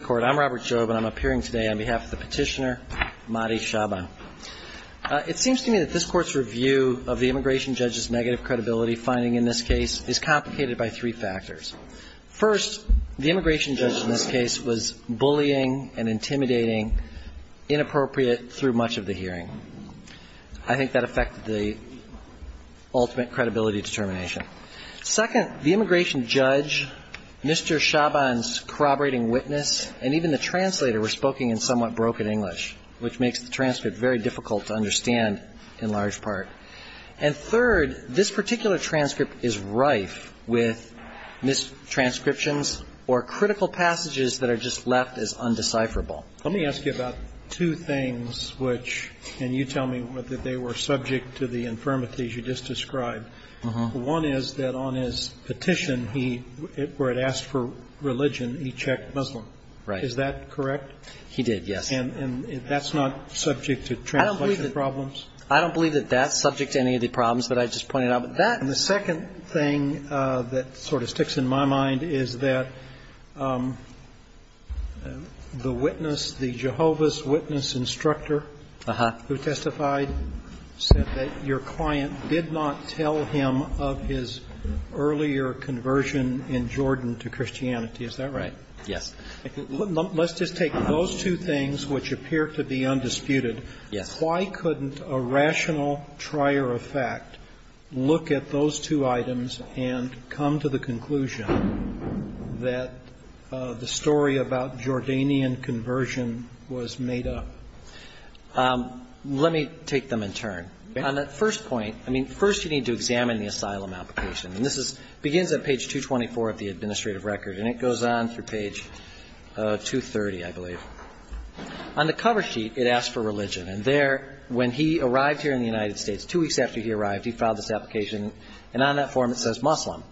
I'm Robert Jobe, and I'm appearing today on behalf of the petitioner, Mahdi Shaban. It seems to me that this Court's review of the immigration judge's negative credibility finding in this case is complicated by three factors. First, the immigration judge in this case was bullying and intimidating, inappropriate through much of the hearing. I think that affected the ultimate credibility determination. Second, the immigration judge, Mr. Shaban's corroborating witness, and even the translator were speaking in somewhat broken English, which makes the transcript very difficult to understand in large part. And third, this particular transcript is rife with mistranscriptions or critical passages that are just left as undecipherable. Let me ask you about two things which, and you tell me that they were subject to the infirmities you just described. One is that on his petition, where it asked for religion, he checked Muslim. Is that correct? He did, yes. And that's not subject to translation problems? I don't believe that that's subject to any of the problems that I just pointed out. But that... And the second thing that sort of sticks in my mind is that the witness, the Jehovah's Witness instructor who testified, said that your client did not tell him that he was Muslim. He did not tell him of his earlier conversion in Jordan to Christianity. Is that right? Yes. Let's just take those two things, which appear to be undisputed. Yes. Why couldn't a rational trier of fact look at those two items and come to the conclusion that the story about Jordanian conversion was made up? Let me take them in turn. On that first point, I mean, first you need to examine the asylum application. And this begins at page 224 of the administrative record, and it goes on through page 230, I believe. On the cover sheet, it asks for religion. And there, when he arrived here in the United States, two weeks after he arrived, he filed this application, and on that form it says Muslim.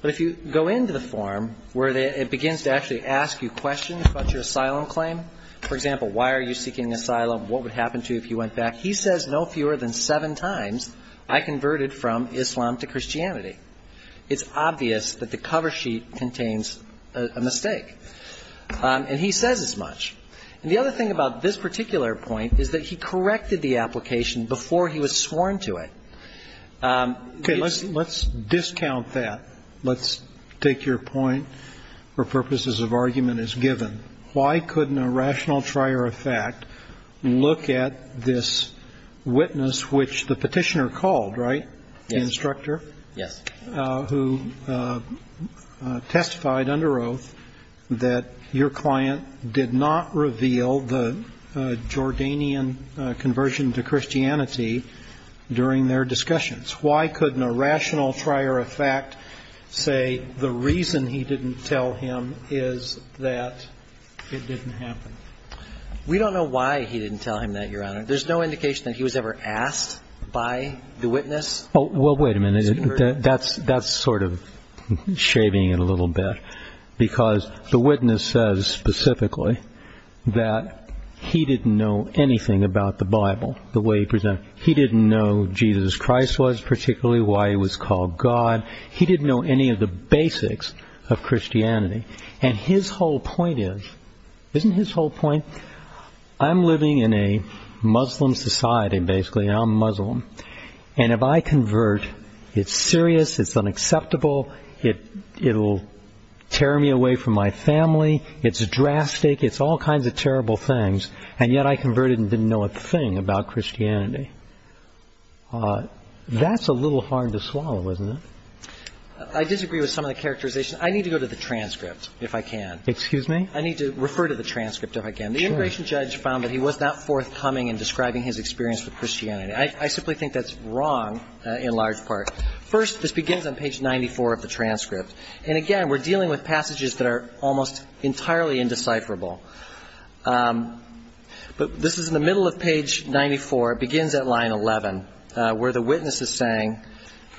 But if you go into the form, where it begins to actually ask you questions about your asylum claim. For example, why are you seeking refugee status? Why are you seeking asylum? What would happen to you if you went back? He says no fewer than seven times, I converted from Islam to Christianity. It's obvious that the cover sheet contains a mistake. And he says as much. And the other thing about this particular point is that he corrected the application before he was sworn to it. Okay. Let's discount that. Let's take your point for purposes of argument as given. Why couldn't a rational trier of fact look at those two items and come to the conclusion that the story about Jordanian conversion was made up? Why couldn't a rational trier of fact look at this witness, which the petitioner called, right? The instructor? Yes. Who testified under oath that your client did not reveal the Jordanian conversion to Christianity during their discussions. Why couldn't a rational trier of fact say the reason he didn't tell him is that it didn't happen? We don't know why he didn't tell him that, Your Honor. There's no indication that he was ever asked by the witness. Well, wait a minute. That's sort of shaving it a little bit. Because the witness says specifically that he didn't know anything about the Bible, the way he presented it. He didn't know Jesus Christ was, particularly why he was called God. He didn't know any of the basics of Christianity. And his whole point is, isn't his whole point, I'm living in a Muslim society, basically, and I'm Muslim. And if I convert, it's serious, it's unacceptable, it'll tear me away from my family, it's drastic, it's all kinds of terrible things, and yet I converted and didn't know a thing about Christianity. That's a little hard to swallow, isn't it? I disagree with some of the characterization. I need to go to the transcript, if I can. The immigration judge found that he was not forthcoming in describing his experience with Christianity. I simply think that's wrong, in large part. First, this begins on page 94 of the transcript. And again, we're dealing with passages that are almost entirely indecipherable. But this is in the middle of page 94. It begins at line 11, where the witness is saying,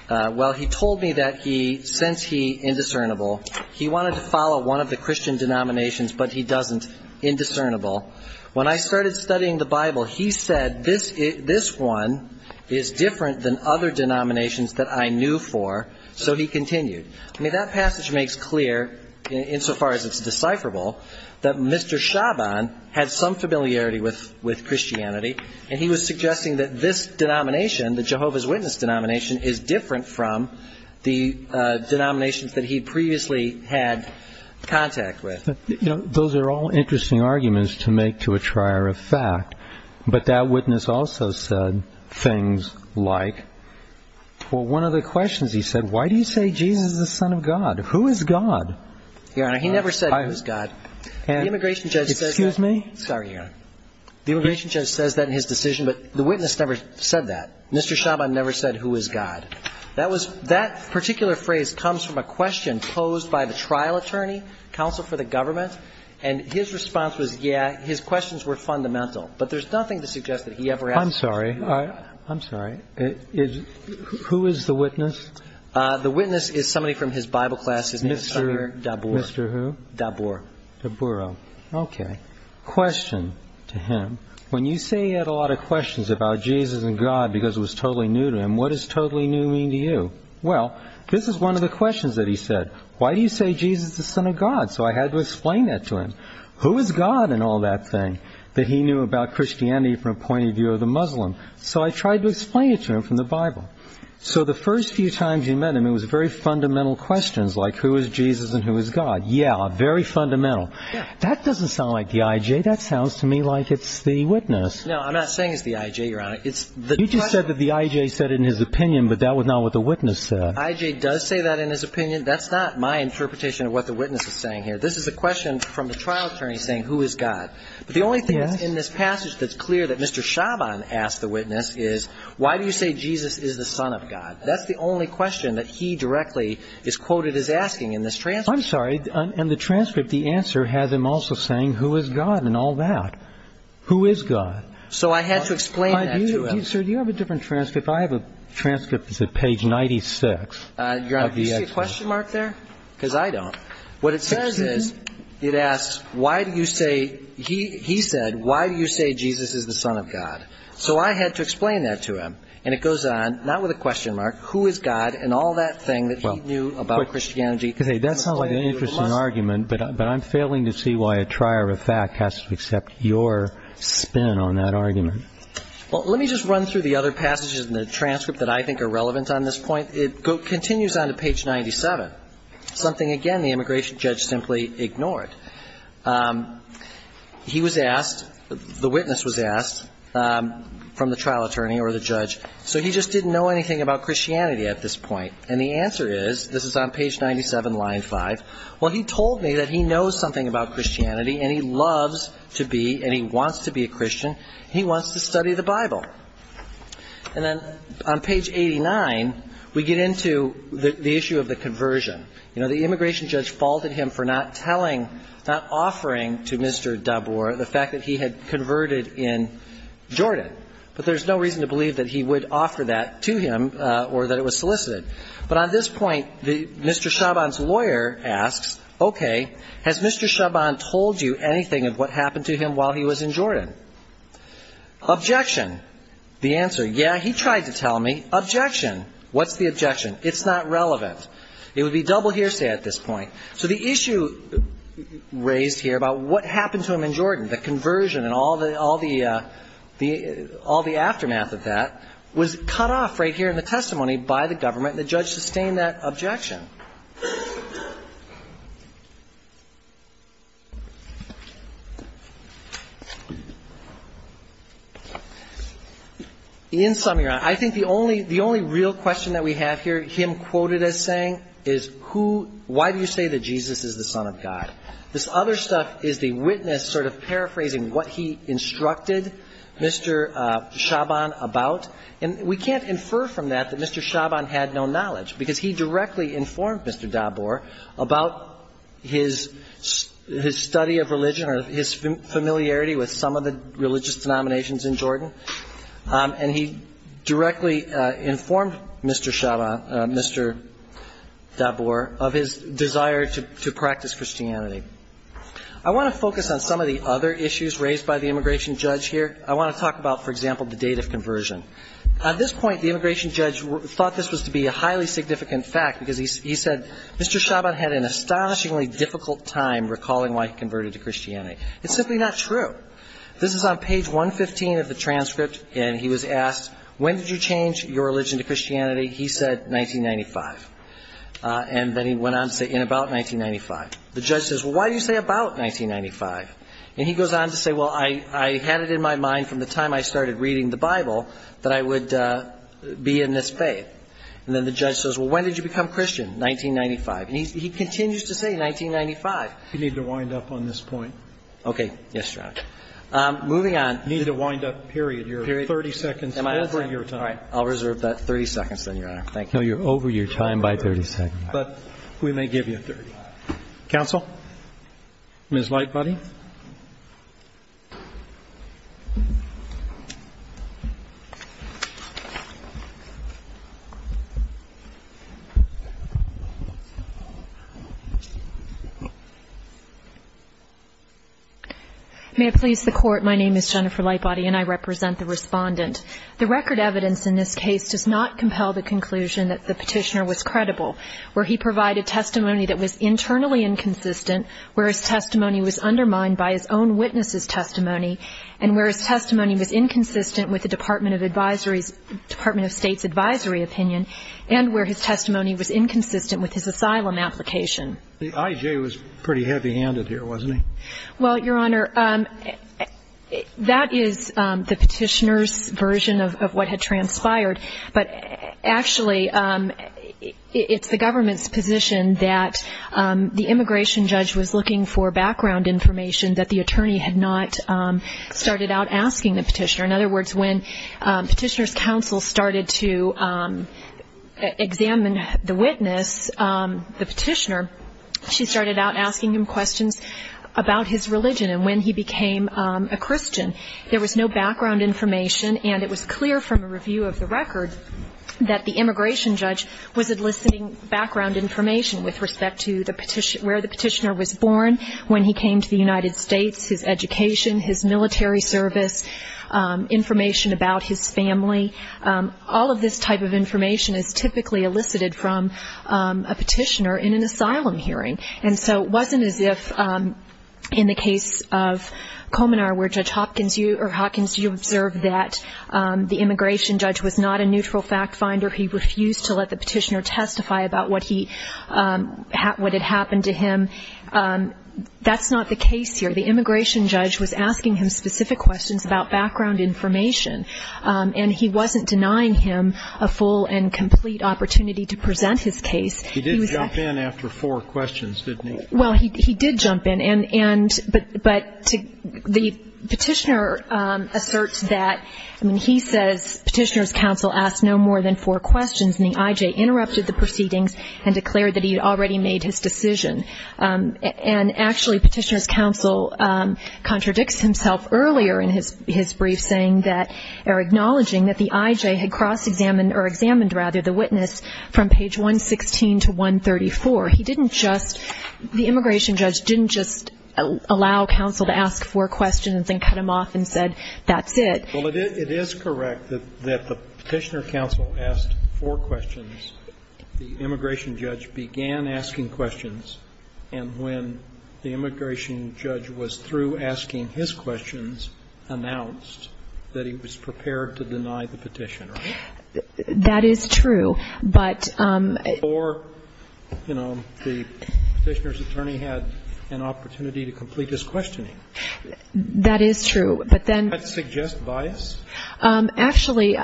well, he told me that he didn't know Jesus Christ. He said that he, since he, indiscernible, he wanted to follow one of the Christian denominations, but he doesn't, indiscernible. When I started studying the Bible, he said, this one is different than other denominations that I knew for, so he continued. I mean, that passage makes clear, insofar as it's decipherable, that Mr. Chabon had some familiarity with Christianity, and he was suggesting that this witness denomination is different from the denominations that he previously had contact with. Those are all interesting arguments to make to a trier of fact, but that witness also said things like, well, one of the questions, he said, why do you say Jesus is the Son of God? Who is God? Your Honor, he never said who is God. The immigration judge says that in his decision, but the witness never said that. Mr. Chabon never said that. He never said who is God. That particular phrase comes from a question posed by the trial attorney, counsel for the government, and his response was, yeah, his questions were fundamental, but there's nothing to suggest that he ever asked that question. I'm sorry. I'm sorry. Who is the witness? The witness is somebody from his Bible class. Mr. Dabur. Mr. Who? Dabur. Dabur. Okay. Question to him. When you say he had a lot of questions about Jesus and God because it was totally new to him, what does totally new mean to you? Well, this is one of the questions that he said. Why do you say Jesus is the Son of God? So I had to explain that to him. Who is God and all that thing that he knew about Christianity from a point of view of the Muslim? So I tried to explain it to him from the Bible. So the first few times you met him, it was very fundamental questions like who is Jesus and who is God? Yeah, very fundamental. That doesn't sound like the I.J. That sounds to me like it's the witness. No, I'm not saying it's the I.J., Your Honor. It's the question. You just said that the I.J. said it in his opinion, but that was not what the witness said. I.J. does say that in his opinion. That's not my interpretation of what the witness is saying here. This is a question from the trial attorney saying who is God. But the only thing that's in this passage that's clear that Mr. Chabon asked the witness is why do you say Jesus is the Son of God? That's the only question that he directly is quoted as asking in this transcript. I'm sorry. In the transcript, the answer has him also saying who is God and all that. Who is God? So I had to explain that to him. Sir, do you have a different transcript? I have a transcript that's at page 96. Your Honor, do you see a question mark there? Because I don't. What it says is, it asks why do you say, he said, why do you say Jesus is the Son of God? So I had to explain that to him. And it goes on, not with a question mark, who is God and all that thing that he knew about Christianity. That's not an interesting argument, but I'm failing to see why a trier of fact has to accept your spin on that argument. Well, let me just run through the other passages in the transcript that I think are relevant on this point. It continues on to page 97, something, again, the immigration judge simply ignored. He was asked, the witness was asked, from the trial attorney or the judge, so he just didn't know anything about Christianity at this point. And the answer is, this is on page 97, line 5, well, he told me that he knows something about Christianity and he loves to be and he wants to be a Christian. He wants to study the Bible. And then on page 89, we get into the issue of the conversion. You know, the immigration judge faulted him for not telling, not offering to Mr. Dabur the fact that he had converted in Jordan. But there's no reason to believe that he would offer that to him or that it was solicited. But on this point, Mr. Chabon's lawyer asks, okay, has Mr. Chabon told you anything of what happened to him while he was in Jordan? Objection. The answer, yeah, he tried to tell me. Objection. What's the objection? It's not relevant. It would be double hearsay at this point. So the issue raised here about what happened to him in Jordan, the conversion and all the aftermath of that, was cut off right here in the testimony by the government and the judge sustained that objection. In summary, I think the only real question that we have here, him quoted as saying, is why do you say that Jesus is the Son of God? This other stuff is the witness sort of paraphrasing what he instructed Mr. Chabon about. And we can't infer from that that Mr. Chabon had no knowledge, because he directly informed Mr. Dabur about his study of religion or his familiarity with some of the religious denominations in Jordan. And he directly informed Mr. Chabon, Mr. Dabur, of his desire to practice Christianity. I want to focus on some of the other issues raised by the immigration judge here. I want to talk about, for example, the date of conversion. At this point, the immigration judge thought this was to be a highly significant fact, because he said, Mr. Chabon had an astonishingly difficult time recalling why he converted to Christianity. It's simply not true. This is on page 115 of the transcript, and he was asked, when did you change your religion to Christianity? He said, 1995. And then he went on to say, in about 1995. The judge says, well, why do you say about 1995? And he goes on to say, well, I had it in my mind from the time I started reading the Bible that I would be in this faith. And then the judge says, well, when did you become Christian? 1995. And he continues to say 1995. You need to wind up on this point. Okay. Yes, Your Honor. Moving on. You need to wind up, period. You're 30 seconds over your time. Thank you. May I please the Court? My name is Jennifer Lightbody, and I represent the Respondent. The record evidence in this case does not compel the conclusion that the petitioner was credible, where he provided testimony that was internally inconsistent, where his testimony was undermined by his own witness' testimony, and where his testimony was inconsistent with the Department of State's advisory opinion, and where his testimony was inconsistent with his asylum application. The I.J. was pretty heavy-handed here, wasn't he? Well, Your Honor, that is the petitioner's version of what had transpired, but actually, it's the government's position that the immigration judge was not credible. The immigration judge was looking for background information that the attorney had not started out asking the petitioner. In other words, when petitioner's counsel started to examine the witness, the petitioner, she started out asking him questions about his religion, and when he became a Christian. There was no background information, and it was clear from a review of the record that the immigration judge was enlisting background information with respect to where the petitioner was born, when he came to the United States, his education, his military service, information about his family. All of this type of information is typically elicited from a petitioner in an asylum hearing, and so it wasn't as if, in the case of Komenar, where Judge Hopkins, you observed that the immigration judge was not a neutral fact-finder. He refused to let the petitioner testify about what had happened to him. That's not the case here. The immigration judge was asking him specific questions about background information, and he wasn't denying him a full and complete opportunity to present his case. He did jump in after four questions, didn't he? Well, he did jump in, but the petitioner asserts that, I mean, he says petitioner's counsel asked no more than four questions. And the IJ interrupted the proceedings and declared that he had already made his decision. And actually, petitioner's counsel contradicts himself earlier in his brief, saying that, or acknowledging that the IJ had cross-examined, or examined, rather, the witness from page 116 to 134. He didn't just, the immigration judge didn't just allow counsel to ask four questions and cut him off and said, that's it. Well, it is correct that the petitioner counsel asked four questions. The immigration judge began asking questions, and when the immigration judge was through asking his questions, announced that he was prepared to deny the petitioner. That is true, but... Or, you know, the petitioner's attorney had an opportunity to complete his questioning. That is true, but then... Does that suggest bias? Actually,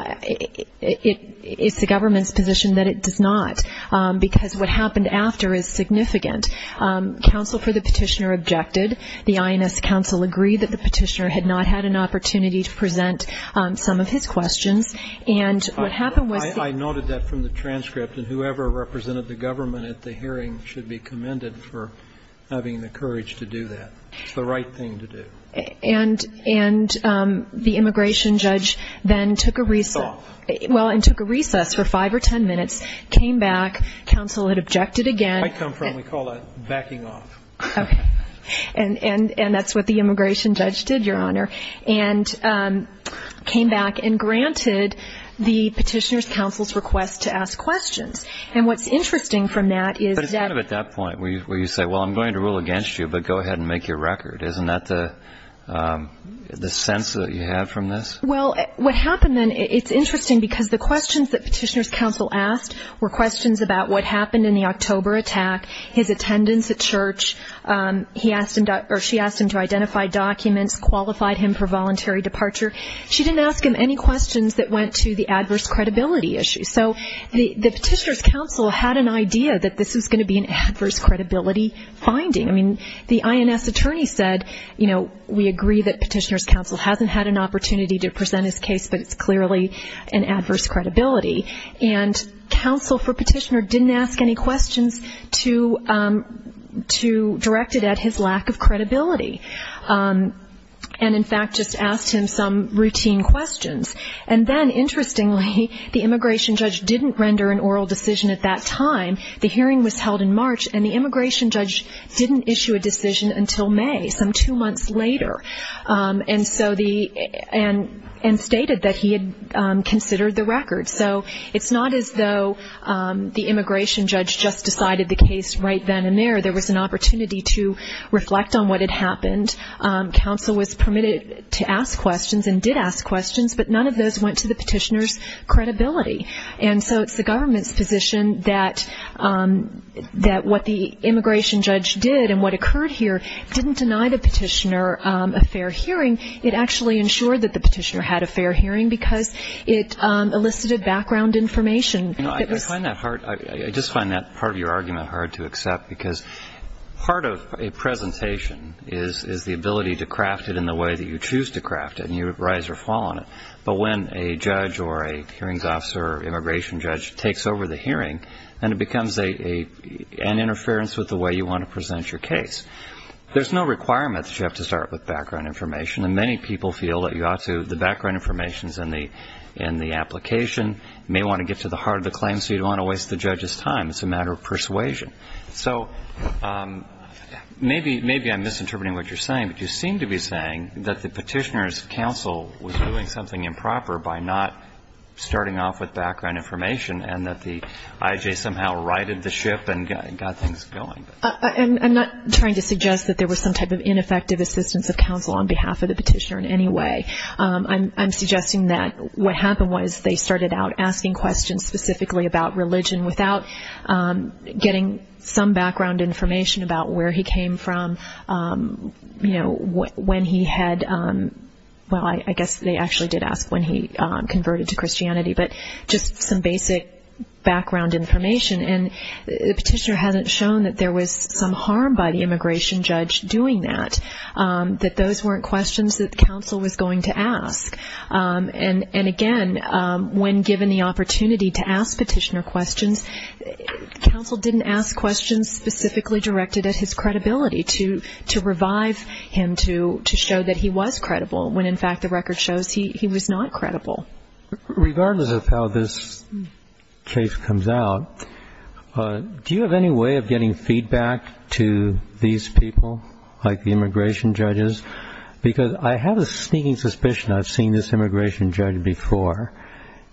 it's the government's position that it does not, because what happened after is significant. Counsel for the petitioner objected. The INS counsel agreed that the petitioner had not had an opportunity to present some of his questions, and what happened was... I noted that from the transcript, and whoever represented the government at the hearing should be commended for having the courage to do that. It's the right thing to do. And the immigration judge then took a recess for five or ten minutes, came back, counsel had objected again... I come from, we call that backing off. And that's what the immigration judge did, Your Honor, and came back and granted the petitioner's counsel's request to ask questions. And what's interesting from that is that... That's the record, isn't that the sense that you have from this? Well, what happened then, it's interesting, because the questions that petitioner's counsel asked were questions about what happened in the October attack, his attendance at church, he asked him, or she asked him to identify documents, qualified him for voluntary departure. She didn't ask him any questions that went to the adverse credibility issue. So the petitioner's counsel had an idea that this was going to be an adverse credibility finding. I mean, the INS attorney said, you know, we agree that petitioner's counsel hasn't had an opportunity to present his case, but it's clearly an adverse credibility. And counsel for petitioner didn't ask any questions to direct it at his lack of credibility. And, in fact, just asked him some routine questions. And then, interestingly, the immigration judge didn't render an oral decision at that time. The hearing was held in March, and the immigration judge didn't issue a decision until May, some two months later. And so the... And stated that he had considered the record. So it's not as though the immigration judge just decided the case right then and there. There was an opportunity to reflect on what had happened. Counsel was permitted to ask questions and did ask questions, but none of those went to the petitioner's credibility. And so it's the government's position that what the immigration judge did and what occurred here didn't deny the petitioner a fair hearing. It actually ensured that the petitioner had a fair hearing, because it elicited background information. I find that hard. I just find that part of your argument hard to accept, because part of a presentation is the ability to craft it in the way that you choose to craft it, and you rise or fall on it. But when a judge or a hearings officer or immigration judge takes over the hearing, and it becomes an interference with the way you want to present your case, there's no requirement that you have to start with background information, and many people feel that you ought to. The background information is in the application. You may want to get to the heart of the claim so you don't want to waste the judge's time. It's a matter of persuasion. So maybe I'm misinterpreting what you're saying, but you seem to be saying that the petitioner's counsel was doing something improper by not starting off with background information and that the IJ somehow righted the ship and got things going. I'm not trying to suggest that there was some type of ineffective assistance of counsel on behalf of the petitioner in any way. I'm suggesting that what happened was they started out asking questions specifically about religion without getting some background information about where he came from, when he had, well, I guess they actually did ask when he converted to Christianity, but just some basic background information. And the petitioner hasn't shown that there was some harm by the immigration judge doing that, that those weren't questions that counsel was going to ask. And again, when given the opportunity to ask petitioner questions, counsel didn't ask questions specifically directed at his credibility, to revive him to show that he was credible, when in fact the record shows he was not credible. Regardless of how this case comes out, do you have any way of getting feedback to these people, like the immigration judges? Because I have a sneaking suspicion I've seen this immigration judge before,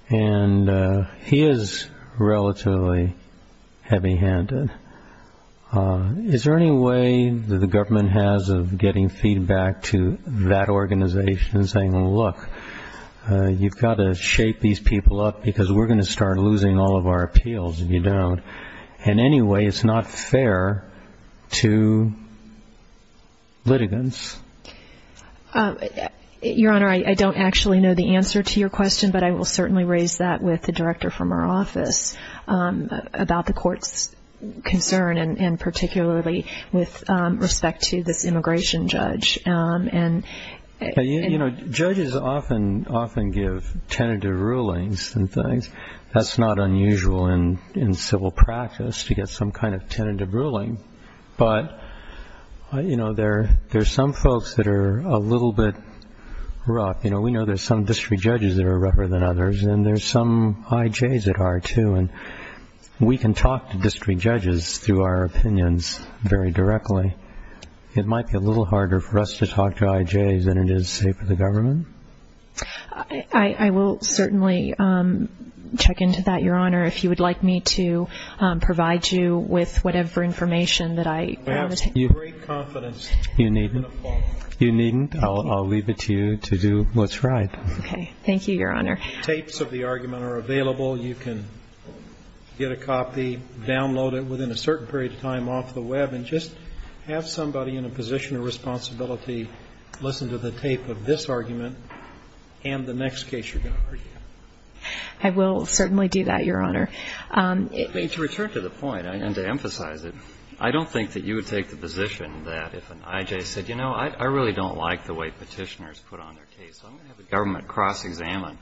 and he is relatively heavy-handed. Is there any way that the government has of getting feedback to that organization and saying, well, look, you've got to shape these people up, because we're going to start losing all of our appeals if you don't. In any way, it's not fair to litigants. Your Honor, I don't actually know the answer to your question, but I will certainly raise that with the director from our office about the court's concern, and particularly with respect to this immigration judge. You know, judges often give tentative rulings and things. That's not unusual in civil practice to get some kind of tentative ruling, but there are some folks that are a little bit rough. We know there are some district judges that are rougher than others, and there are some IJs that are, too. We can talk to district judges through our opinions very directly. It might be a little harder for us to talk to IJs than it is, say, for the government. I will certainly check into that, Your Honor, if you would like me to provide you with whatever information that I want to take. I have great confidence you're going to follow. You needn't. I'll leave it to you to do what's right. Okay. Thank you, Your Honor. Tapes of the argument are available. You can get a copy, download it within a certain period of time off the Web, and just have somebody in a position of responsibility listen to the tape of this argument and the next case you're going to argue. I will certainly do that, Your Honor. To return to the point and to emphasize it, I don't think that you would take the position that if an IJ said, you know, I really don't like the way Petitioners put on their case. I'm going to have the government cross-examine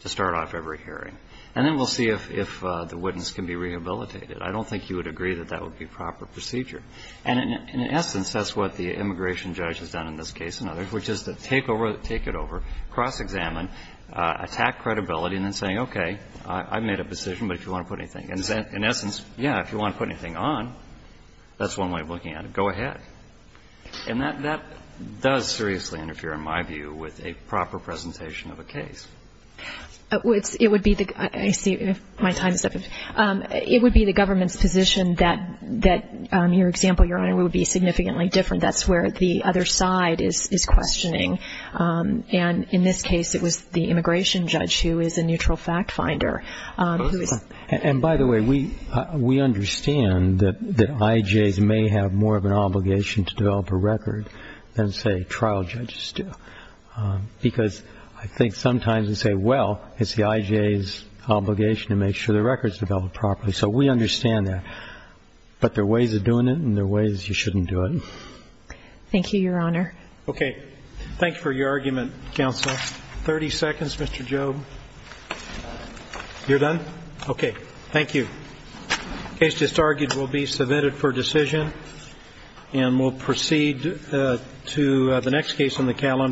to start off every hearing, and then we'll see if the witness can be rehabilitated. I don't think you would agree that that would be proper procedure. And in essence, that's what the immigration judge has done in this case and others, which is to take it over, cross-examine, attack credibility, and then say, okay, I've made a decision, but if you want to put anything. In essence, yeah, if you want to put anything on, that's one way of looking at it. Go ahead. And that does seriously interfere, in my view, with a proper presentation of a case. It would be the government's position that your example, Your Honor, would be significantly different. That's where the other side is questioning. And in this case, it was the immigration judge who is a neutral fact finder. And, by the way, we understand that IJs may have more of an obligation to develop a record than, say, trial judges do. Because I think sometimes we say, well, it's the IJ's obligation to make sure the record is developed properly. So we understand that. But there are ways of doing it, and there are ways you shouldn't do it. Thank you, Your Honor. Okay. Thank you for your argument, counsel. Thirty seconds, Mr. Jobe. You're done? Okay. Thank you. The case just argued will be submitted for decision. And we'll proceed to the next case on the calendar.